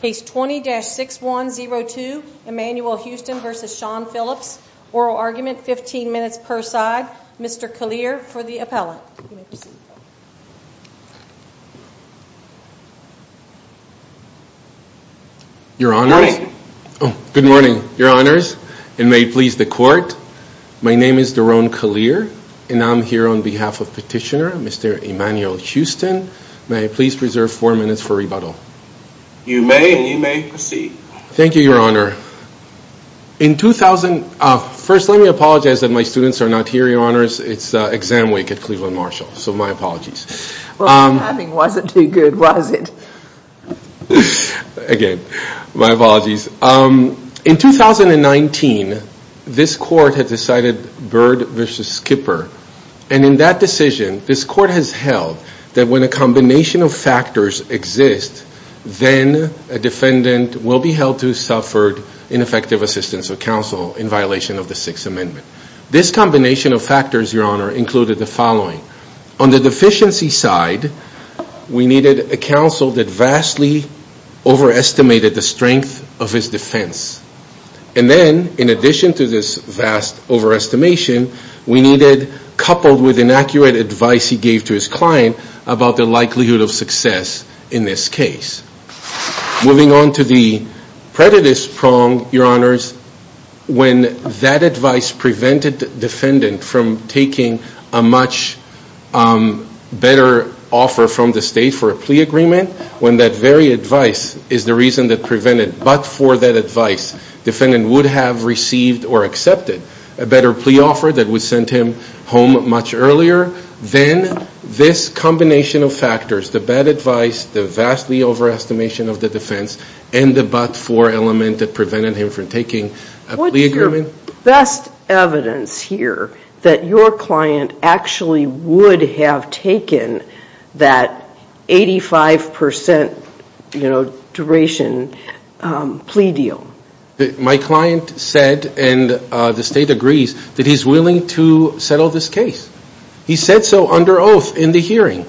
Case 20-6102, Emmanuel Houston v. Shawn Phillips Oral argument, 15 minutes per side Mr. Kalir, for the appellant You may proceed Your Honors Good morning Your Honors And may it please the Court My name is Daron Kalir And I'm here on behalf of Petitioner, Mr. Emmanuel Houston May I please reserve 4 minutes for rebuttal You may, and you may proceed Thank you, Your Honor In 2000... First, let me apologize that my students are not here, Your Honors It's exam week at Cleveland Marshall So, my apologies Well, what you're having wasn't too good, was it? Again, my apologies In 2019, this Court had decided Bird v. Skipper And in that decision, this Court has held That when a combination of factors exists Then, a defendant will be held to have suffered Ineffective assistance of counsel in violation of the Sixth Amendment This combination of factors, Your Honor, included the following On the deficiency side We needed a counsel that vastly overestimated the strength of his defense And then, in addition to this vast overestimation We needed, coupled with inaccurate advice he gave to his client About the likelihood of success in this case Moving on to the predatist prong, Your Honors When that advice prevented the defendant from taking a much better offer from the State for a plea agreement When that very advice is the reason that prevented But for that advice, defendant would have received or accepted A better plea offer that would have sent him home much earlier Then, this combination of factors The bad advice, the vastly overestimation of the defense And the but-for element that prevented him from taking a plea agreement What's your best evidence here That your client actually would have taken that 85% duration plea deal? My client said, and the State agrees That he's willing to settle this case He said so under oath in the hearing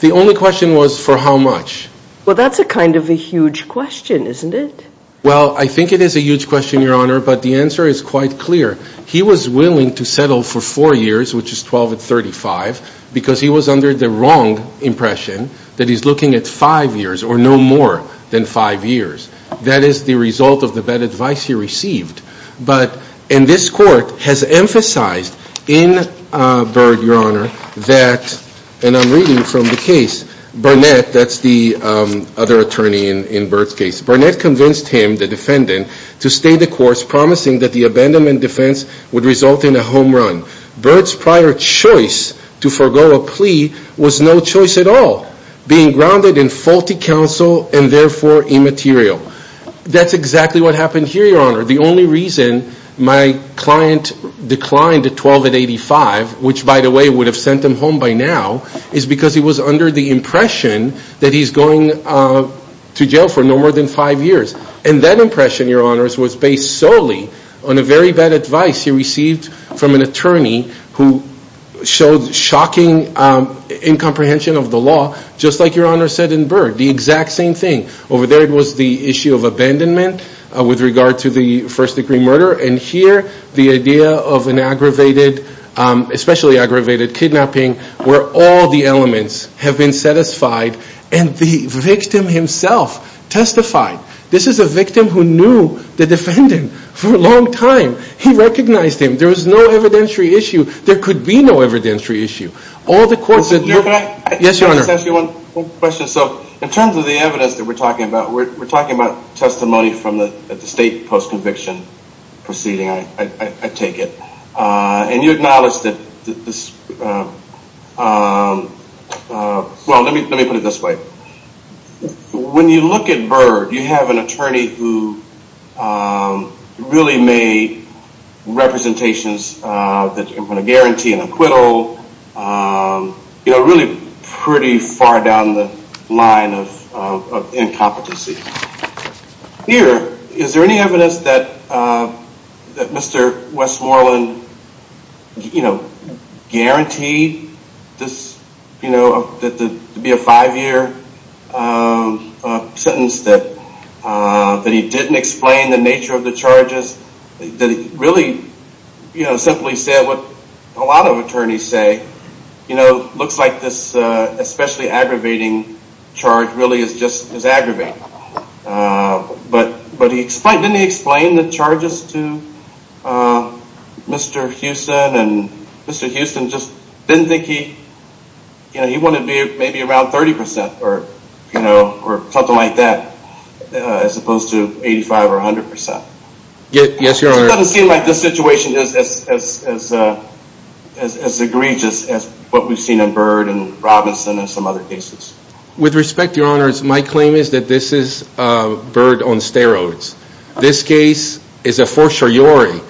The only question was for how much Well, that's a kind of a huge question, isn't it? Well, I think it is a huge question, Your Honor But the answer is quite clear He was willing to settle for four years, which is 12 and 35 Because he was under the wrong impression That he's looking at five years, or no more than five years That is the result of the bad advice he received But, and this court has emphasized In Byrd, Your Honor, that And I'm reading from the case Burnett, that's the other attorney in Byrd's case Burnett convinced him, the defendant To stay the course, promising that the abandonment defense Would result in a home run Byrd's prior choice to forego a plea Was no choice at all Being grounded in faulty counsel And therefore immaterial That's exactly what happened here, Your Honor The only reason my client declined at 12 and 85 Which, by the way, would have sent him home by now Is because he was under the impression That he's going to jail for no more than five years And that impression, Your Honor, was based solely On a very bad advice he received from an attorney Who showed shocking incomprehension of the law Just like Your Honor said in Byrd The exact same thing Over there it was the issue of abandonment With regard to the first degree murder And here, the idea of an aggravated Especially aggravated kidnapping Where all the elements have been satisfied And the victim himself testified This is a victim who knew the defendant For a long time He recognized him There was no evidentiary issue There could be no evidentiary issue All the courts that Your Honor, can I ask you one question? So, in terms of the evidence that we're talking about We're talking about testimony From the state post-conviction proceeding I take it And you acknowledge that this Well, let me put it this way When you look at Byrd You have an attorney who Really made representations That were going to guarantee an acquittal You know, really pretty far down the line Of incompetency Here, is there any evidence that That Mr. Westmoreland You know, guaranteed This, you know, to be a five year Sentence that That he didn't explain the nature of the charges That he really, you know, simply said And that's what a lot of attorneys say You know, looks like this Especially aggravating charge Really is just, is aggravating But he explained Didn't he explain the charges to Mr. Houston And Mr. Houston just didn't think he You know, he wanted to be maybe around 30% Or, you know, or something like that As opposed to 85 or 100% Yes, Your Honor It doesn't seem like this situation is As egregious as what we've seen in Byrd And Robinson and some other cases With respect, Your Honor My claim is that this is Byrd on steroids This case is a fortiori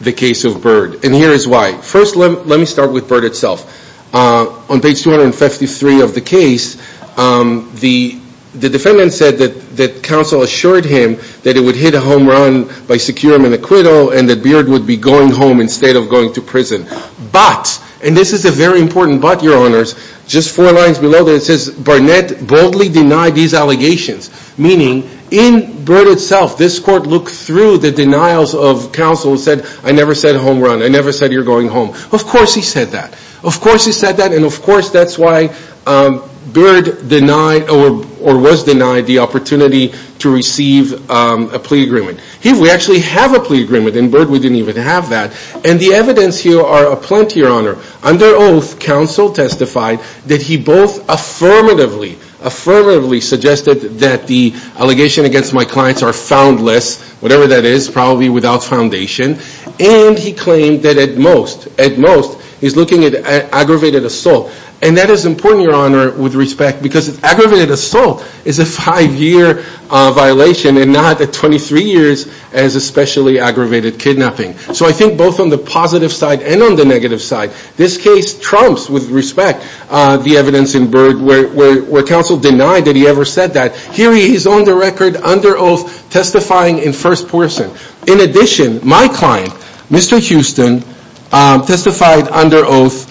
The case of Byrd And here is why First, let me start with Byrd itself On page 253 of the case The defendant said that Counsel assured him that it would hit a home run By secure him an acquittal And that Byrd would be going home Instead of going to prison But, and this is a very important but, Your Honors Just four lines below that it says Barnett boldly denied these allegations Meaning, in Byrd itself This court looked through the denials of counsel And said, I never said home run I never said you're going home Of course he said that Of course he said that And of course that's why Byrd denied Or was denied the opportunity To receive a plea agreement Here we actually have a plea agreement In Byrd we didn't even have that And the evidence here are aplenty, Your Honor Under oath, counsel testified That he both affirmatively Affirmatively suggested that the Allegation against my clients are foundless Whatever that is Probably without foundation And he claimed that at most At most, he's looking at aggravated assault And that is important, Your Honor With respect Because aggravated assault Is a five year violation And not a 23 years As especially aggravated kidnapping So I think both on the positive side And on the negative side This case trumps with respect The evidence in Byrd Where counsel denied that he ever said that Here he is on the record Under oath testifying in first person In addition, my client Mr. Houston Testified under oath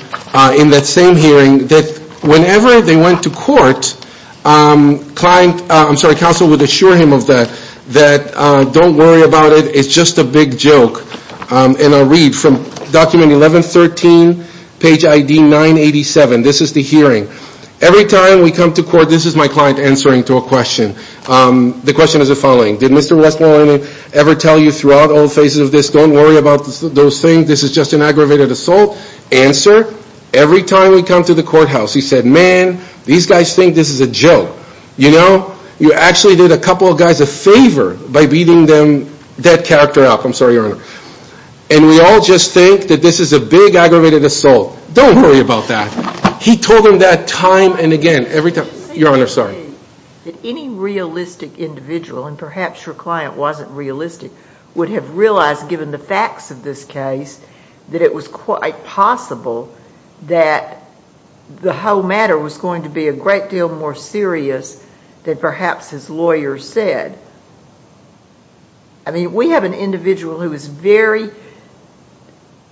In that same hearing That whenever they went to court Counsel would assure him of that That don't worry about it It's just a big joke And I'll read from document 1113 Page ID 987 This is the hearing Every time we come to court This is my client answering to a question The question is the following Did Mr. Westmoreland ever tell you Throughout all phases of this Don't worry about those things This is just an aggravated assault Answer Every time we come to the courthouse He said, man These guys think this is a joke You know You actually did a couple of guys a favor By beating them That character up I'm sorry, your honor And we all just think That this is a big aggravated assault Don't worry about that He told them that time and again Every time Your honor, sorry Any realistic individual And perhaps your client wasn't realistic Would have realized Given the facts of this case That it was quite possible That The whole matter was going to be A great deal more serious Than perhaps his lawyer said I mean We have an individual Who was very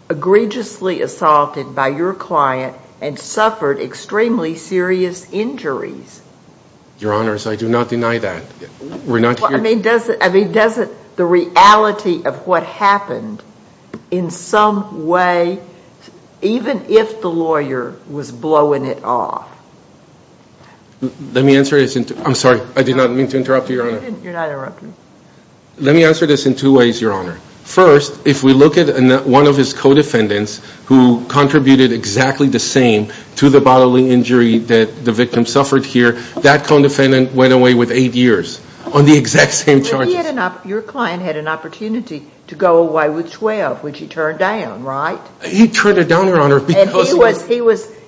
Egregiously assaulted By your client And suffered extremely serious injuries Your honors I do not deny that We're not here I mean Doesn't the reality of what happened In some way Even if the lawyer Was blowing it off Let me answer this I'm sorry I did not mean to interrupt you, your honor You're not interrupting Let me answer this in two ways, your honor First If we look at one of his co-defendants Who contributed exactly the same To the bodily injury That the victim suffered here That co-defendant went away with 8 years On the exact same charges Your client had an opportunity To go away with 12 Which he turned down, right? He turned it down, your honor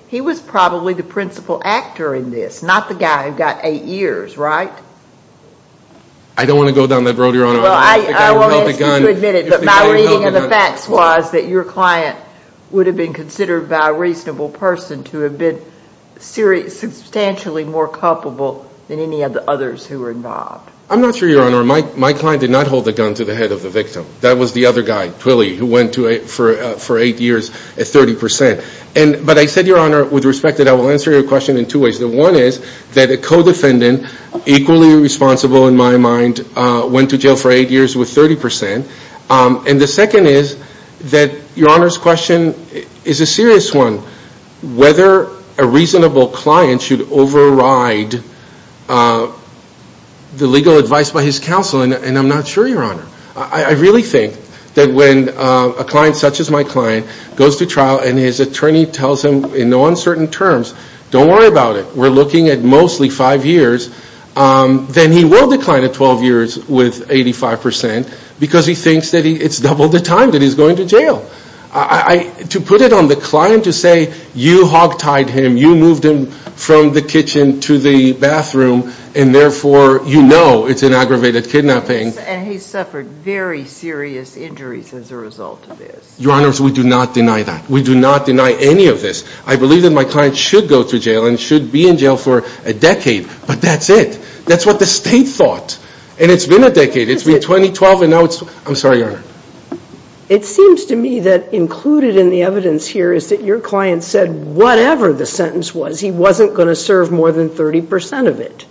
He was probably the principal actor in this Not the guy who got 8 years, right? I don't want to go down that road, your honor I won't ask you to admit it But my reading of the facts Was that your client Would have been considered By a reasonable person To have been Substantially more culpable Than any of the others Who were involved I'm not sure, your honor My client did not hold the gun To the head of the victim That was the other guy Twilley Who went for 8 years At 30% But I said, your honor With respect that I will answer your question In two ways The one is That a co-defendant Equally responsible in my mind Went to jail for 8 years With 30% And the second is That your honor's question Is a serious one Whether a reasonable client Should override The legal advice by his counsel And I'm not sure, your honor I really think That when a client Such as my client Goes to trial And his attorney tells him In no uncertain terms Don't worry about it We're looking at mostly 5 years Then he will decline at 12 years With 85% Because he thinks That it's double the time That he's going to jail To put it on the client To say You hog tied him You moved him From the kitchen To the bathroom And therefore You know It's an aggravated kidnapping And he suffered Very serious injuries As a result of this Your honors We do not deny that We do not deny any of this I believe that my client Should go to jail And should be in jail For a decade But that's it That's what the state thought And it's been a decade It's been 20, 12 And now it's I'm sorry, your honor It seems to me That included in the evidence here Is that your client said Whatever the sentence was He wasn't going to serve More than 30% of it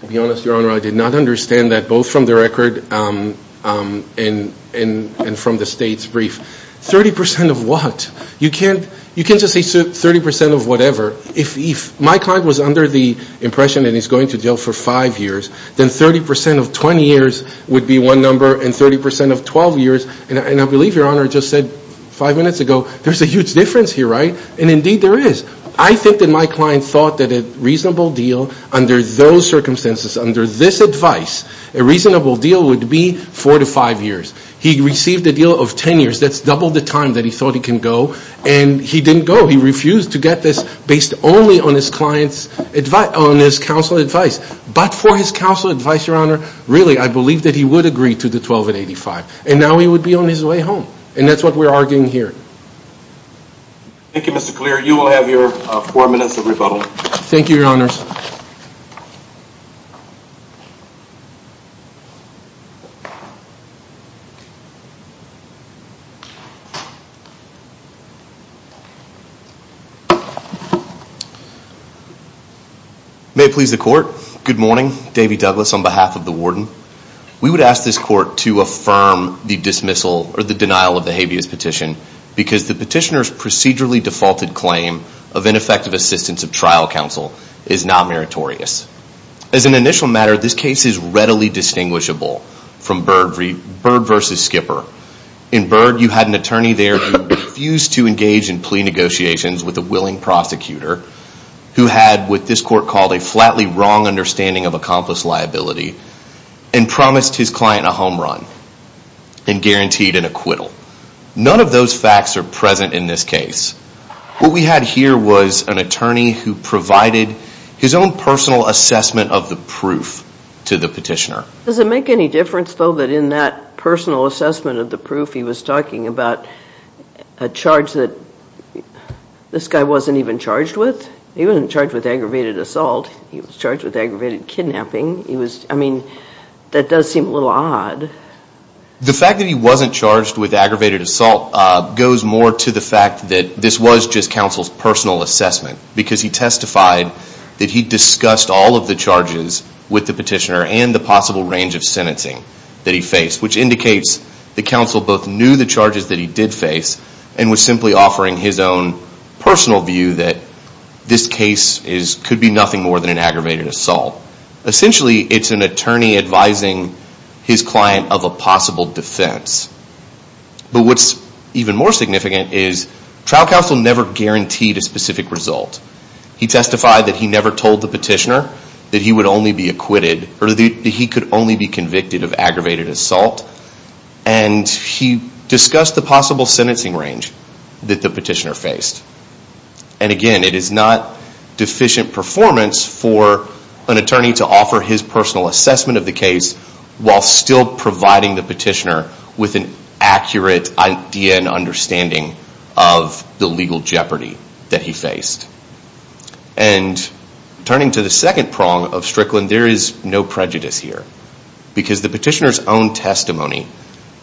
To be honest, your honor I did not understand that Both from the record And from the state's brief 30% of what? You can't You can't just say 30% of whatever If my client was under the impression That he's going to jail for five years Then 30% of 20 years Would be one number And 30% of 12 years And I believe, your honor I just said five minutes ago There's a huge difference here, right? And indeed there is I think that my client thought That a reasonable deal Under those circumstances Under this advice A reasonable deal Would be four to five years He received a deal of 10 years That's double the time That he thought he can go And he didn't go He refused to get this Based only on his client's On his counsel's advice But for his counsel's advice, your honor Really, I believe That he would agree to the 12 and 85 And now he would be on his way home And that's what we're arguing here Thank you, Mr. Clear You will have your Four minutes of rebuttal Thank you, your honors May it please the court Good morning Davey Douglas On behalf of the warden We would ask this court To affirm the dismissal Or the denial of the habeas petition Because the petitioner's Procedurally defaulted claim Of ineffective assistance Of trial counsel On the other hand Because the petitioner Is not meritorious On the one hand Because the petitioner Is not meritorious On the other hand From Bird vs. Skipper In Bird, you had an attorney there Who refused to engage in plea negotiations With a willing prosecutor Who had, what this court called A flatly wrong understanding Of accomplice liability And promised his client a home run And guaranteed an acquittal None of those facts are present in this case What we had here was An attorney who provided His own personal assessment of the proof To the petitioner Does it make any difference though That in that personal assessment of the proof He was talking about A charge that This guy wasn't even charged with? He wasn't charged with aggravated assault He was charged with aggravated kidnapping He was, I mean That does seem a little odd The fact that he wasn't charged With aggravated assault Goes more to the fact that This was just counsel's personal assessment Because he testified That he discussed all of the charges With the petitioner And the possible range of sentencing That he faced Which indicates that counsel both knew The charges that he did face And was simply offering his own Personal view that This case could be nothing more Than an aggravated assault Essentially it's an attorney advising His client of a possible defense But what's even more significant is Trial counsel never guaranteed A specific result He testified that he never told the petitioner That he would only be acquitted Or that he could only be convicted Of aggravated assault And he discussed the possible sentencing range That the petitioner faced And again it is not Deficient performance for An attorney to offer his personal assessment Of the case While still providing the petitioner With an accurate idea and understanding Of the legal jeopardy That he faced And turning to the second prong of Strickland There is no prejudice here Because the petitioner's own testimony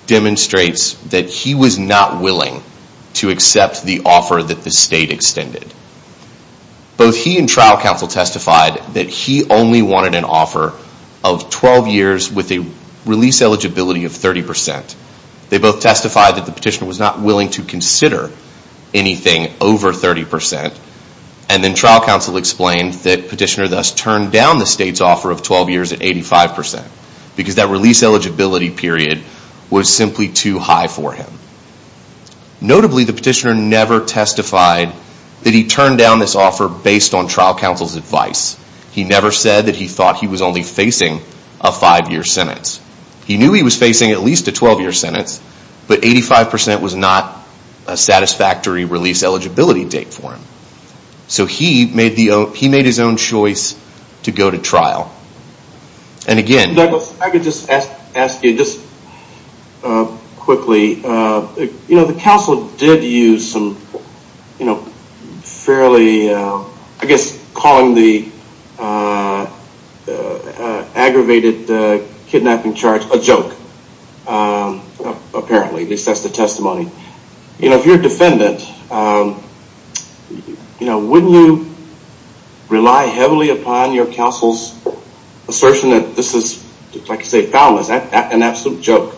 Demonstrates that he was not willing To accept the offer that the state extended Both he and trial counsel testified That he only wanted an offer Of 12 years with a release eligibility Of 30% They both testified that the petitioner Was not willing to consider Anything over 30% And then trial counsel explained That petitioner thus turned down The state's offer of 12 years at 85% Because that release eligibility period Was simply too high for him Notably the petitioner never testified That he turned down this offer Based on trial counsel's advice He never said that he thought he was only facing A 5 year sentence He knew he was facing at least a 12 year sentence But 85% was not a satisfactory Release eligibility date for him So he made his own choice To go to trial And again I could just ask you Quickly You know the counsel did use some You know fairly I guess calling the Aggravated kidnapping charge A joke Apparently At least that's the testimony You know if you're a defendant You know wouldn't you Rely heavily upon your counsel's Assertion that this is Like you say Foundless An absolute joke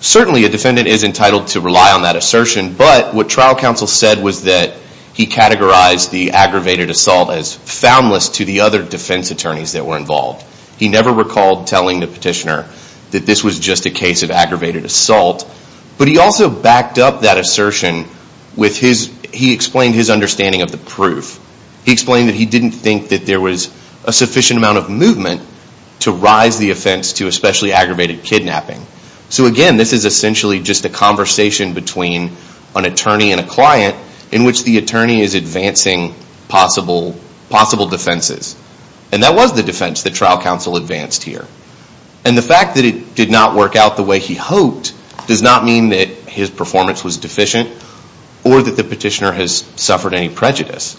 Certainly a defendant is entitled To rely on that assertion But what trial counsel said was that He categorized the aggravated assault As foundless to the other defense attorneys That were involved He never recalled telling the petitioner That this was just a case of aggravated assault But he also backed up that assertion With his He explained his understanding of the proof He explained that he didn't think that there was A sufficient amount of movement To rise the offense to a specially aggravated kidnapping So again this is essentially just a conversation Between an attorney and a client In which the attorney is advancing Possible Possible defenses And that was the defense that trial counsel advanced here And the fact that it did not work out the way he hoped Does not mean that his performance was deficient Or that the petitioner has suffered any prejudice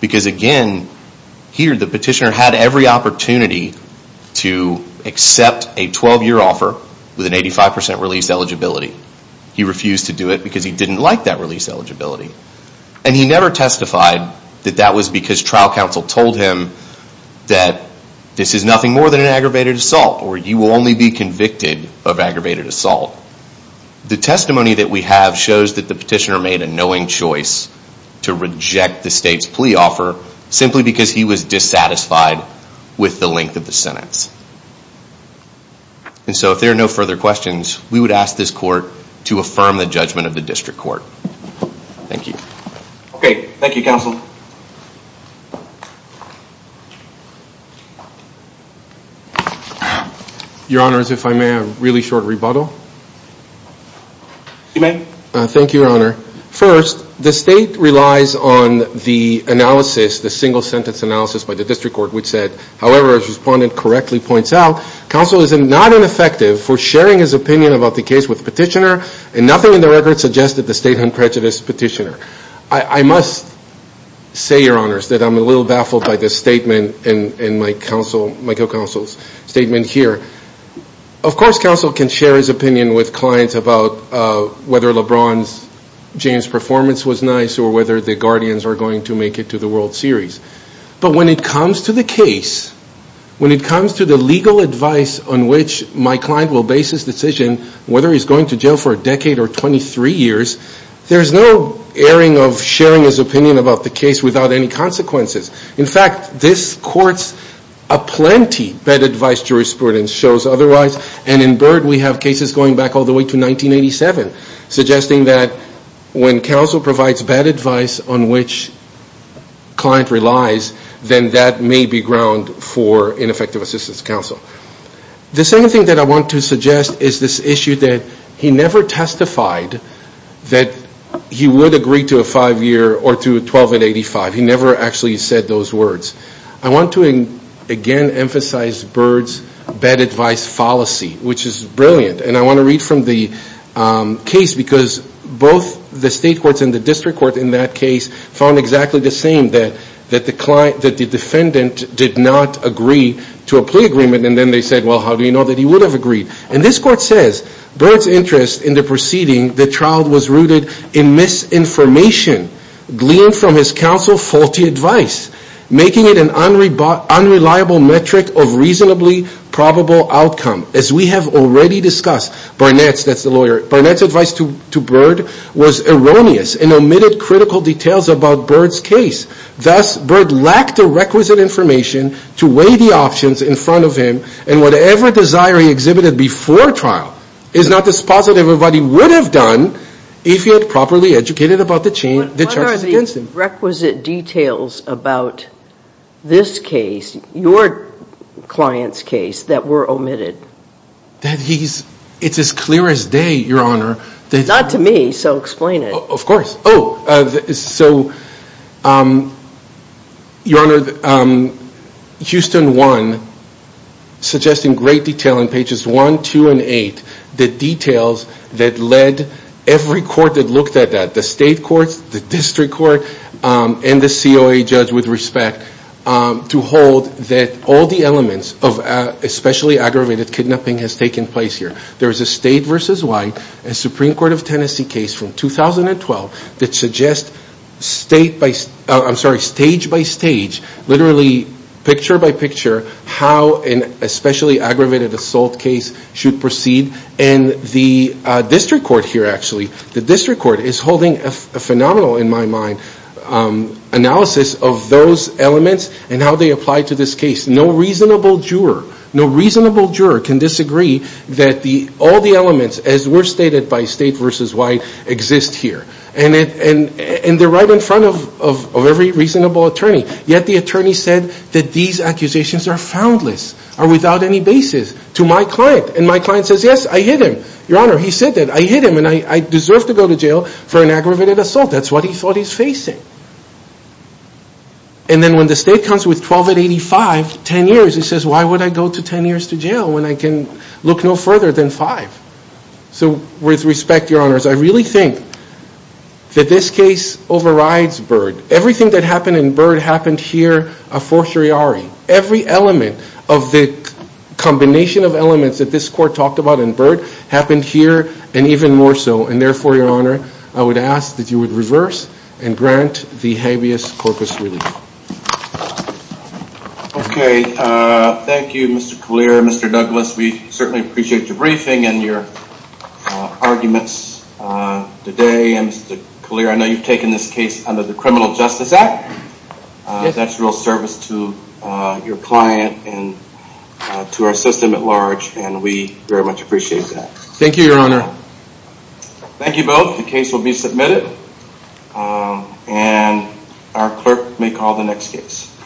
Because again Here the petitioner had every opportunity To accept a 12 year offer With an 85% release eligibility He refused to do it because he didn't like that release eligibility And he never testified That that was because trial counsel told him That this is nothing more than an aggravated assault Or you will only be convicted of aggravated assault The testimony that we have shows that the petitioner Made a knowing choice To reject the state's plea offer Simply because he was dissatisfied With the length of the sentence And so if there are no further questions We would ask this court To affirm the judgment of the district court Thank you Okay, thank you counsel Your honor, if I may have a really short rebuttal You may Thank you your honor First, the state relies on the analysis The single sentence analysis by the district court Which said, however as the respondent correctly points out Counsel is not ineffective for sharing his opinion About the case with the petitioner And nothing in the record suggested The state had prejudiced the petitioner I must say your honor That I'm a little baffled by the statement In my counsel, Michael counsel's statement here Of course counsel can share his opinion with clients About whether Lebron James' performance was nice Or whether the guardians are going to make it to the World Series But when it comes to the case When it comes to the legal advice On which my client will base his decision Whether he's going to jail for a decade or 23 years There's no airing of sharing his opinion About the case without any consequences In fact, this court's A plenty bad advice jurisprudence shows otherwise And in Byrd we have cases going back all the way to 1987 Suggesting that when counsel provides bad advice On which client relies Then that may be ground for ineffective assistance to counsel The second thing that I want to suggest Is this issue that he never testified That he would agree to a five year Or to a 12 and 85 He never actually said those words I want to again emphasize Byrd's bad advice fallacy Which is brilliant And I want to read from the case Because both the state courts and the district court In that case found exactly the same That the defendant did not agree to a plea agreement And then they said well how do you know That he would have agreed And this court says Byrd's interest in the proceeding The trial was rooted in misinformation Gleaned from his counsel faulty advice Making it an unreliable metric Of reasonably probable outcome As we have already discussed Barnett's, that's the lawyer Barnett's advice to Byrd was erroneous And omitted critical details about Byrd's case Thus Byrd lacked the requisite information To weigh the options in front of him And whatever desire he exhibited before trial Is not the spot that everybody would have done If he had properly educated about the charges against him What are the requisite details about this case Your client's case that were omitted It's as clear as day your honor Not to me so explain it Of course So your honor Houston 1 suggesting great detail In pages 1, 2, and 8 The details that led every court that looked at that The state courts, the district court And the COA judge with respect To hold that all the elements Of especially aggravated kidnapping Has taken place here There is a state versus wide Supreme Court of Tennessee case from 2012 That suggests stage by stage Literally picture by picture How an especially aggravated assault case Should proceed And the district court here actually The district court is holding a phenomenal In my mind Analysis of those elements And how they apply to this case No reasonable juror No reasonable juror can disagree That all the elements As were stated by state versus wide Exist here And they're right in front of Every reasonable attorney Yet the attorney said That these accusations are foundless Are without any basis To my client And my client says yes I hit him Your honor he said that I hit him And I deserve to go to jail For an aggravated assault That's what he thought he's facing And then when the state comes with 1285 10 years He says why would I go to 10 years to jail When I can look no further than 5 So with respect your honors I really think That this case overrides Byrd Everything that happened in Byrd Happened here a fortiori Every element of the Combination of elements that this court Talked about in Byrd Happened here and even more so And therefore your honor I would ask that you would reverse And grant the habeas corpus relief Okay Thank you Mr. Kalir Mr. Douglas We certainly appreciate your briefing And your arguments today Mr. Kalir I know you've taken this case Under the criminal justice act That's real service to your client And to our system at large And we very much appreciate that Thank you your honor Thank you both The case will be submitted And our clerk may call the next case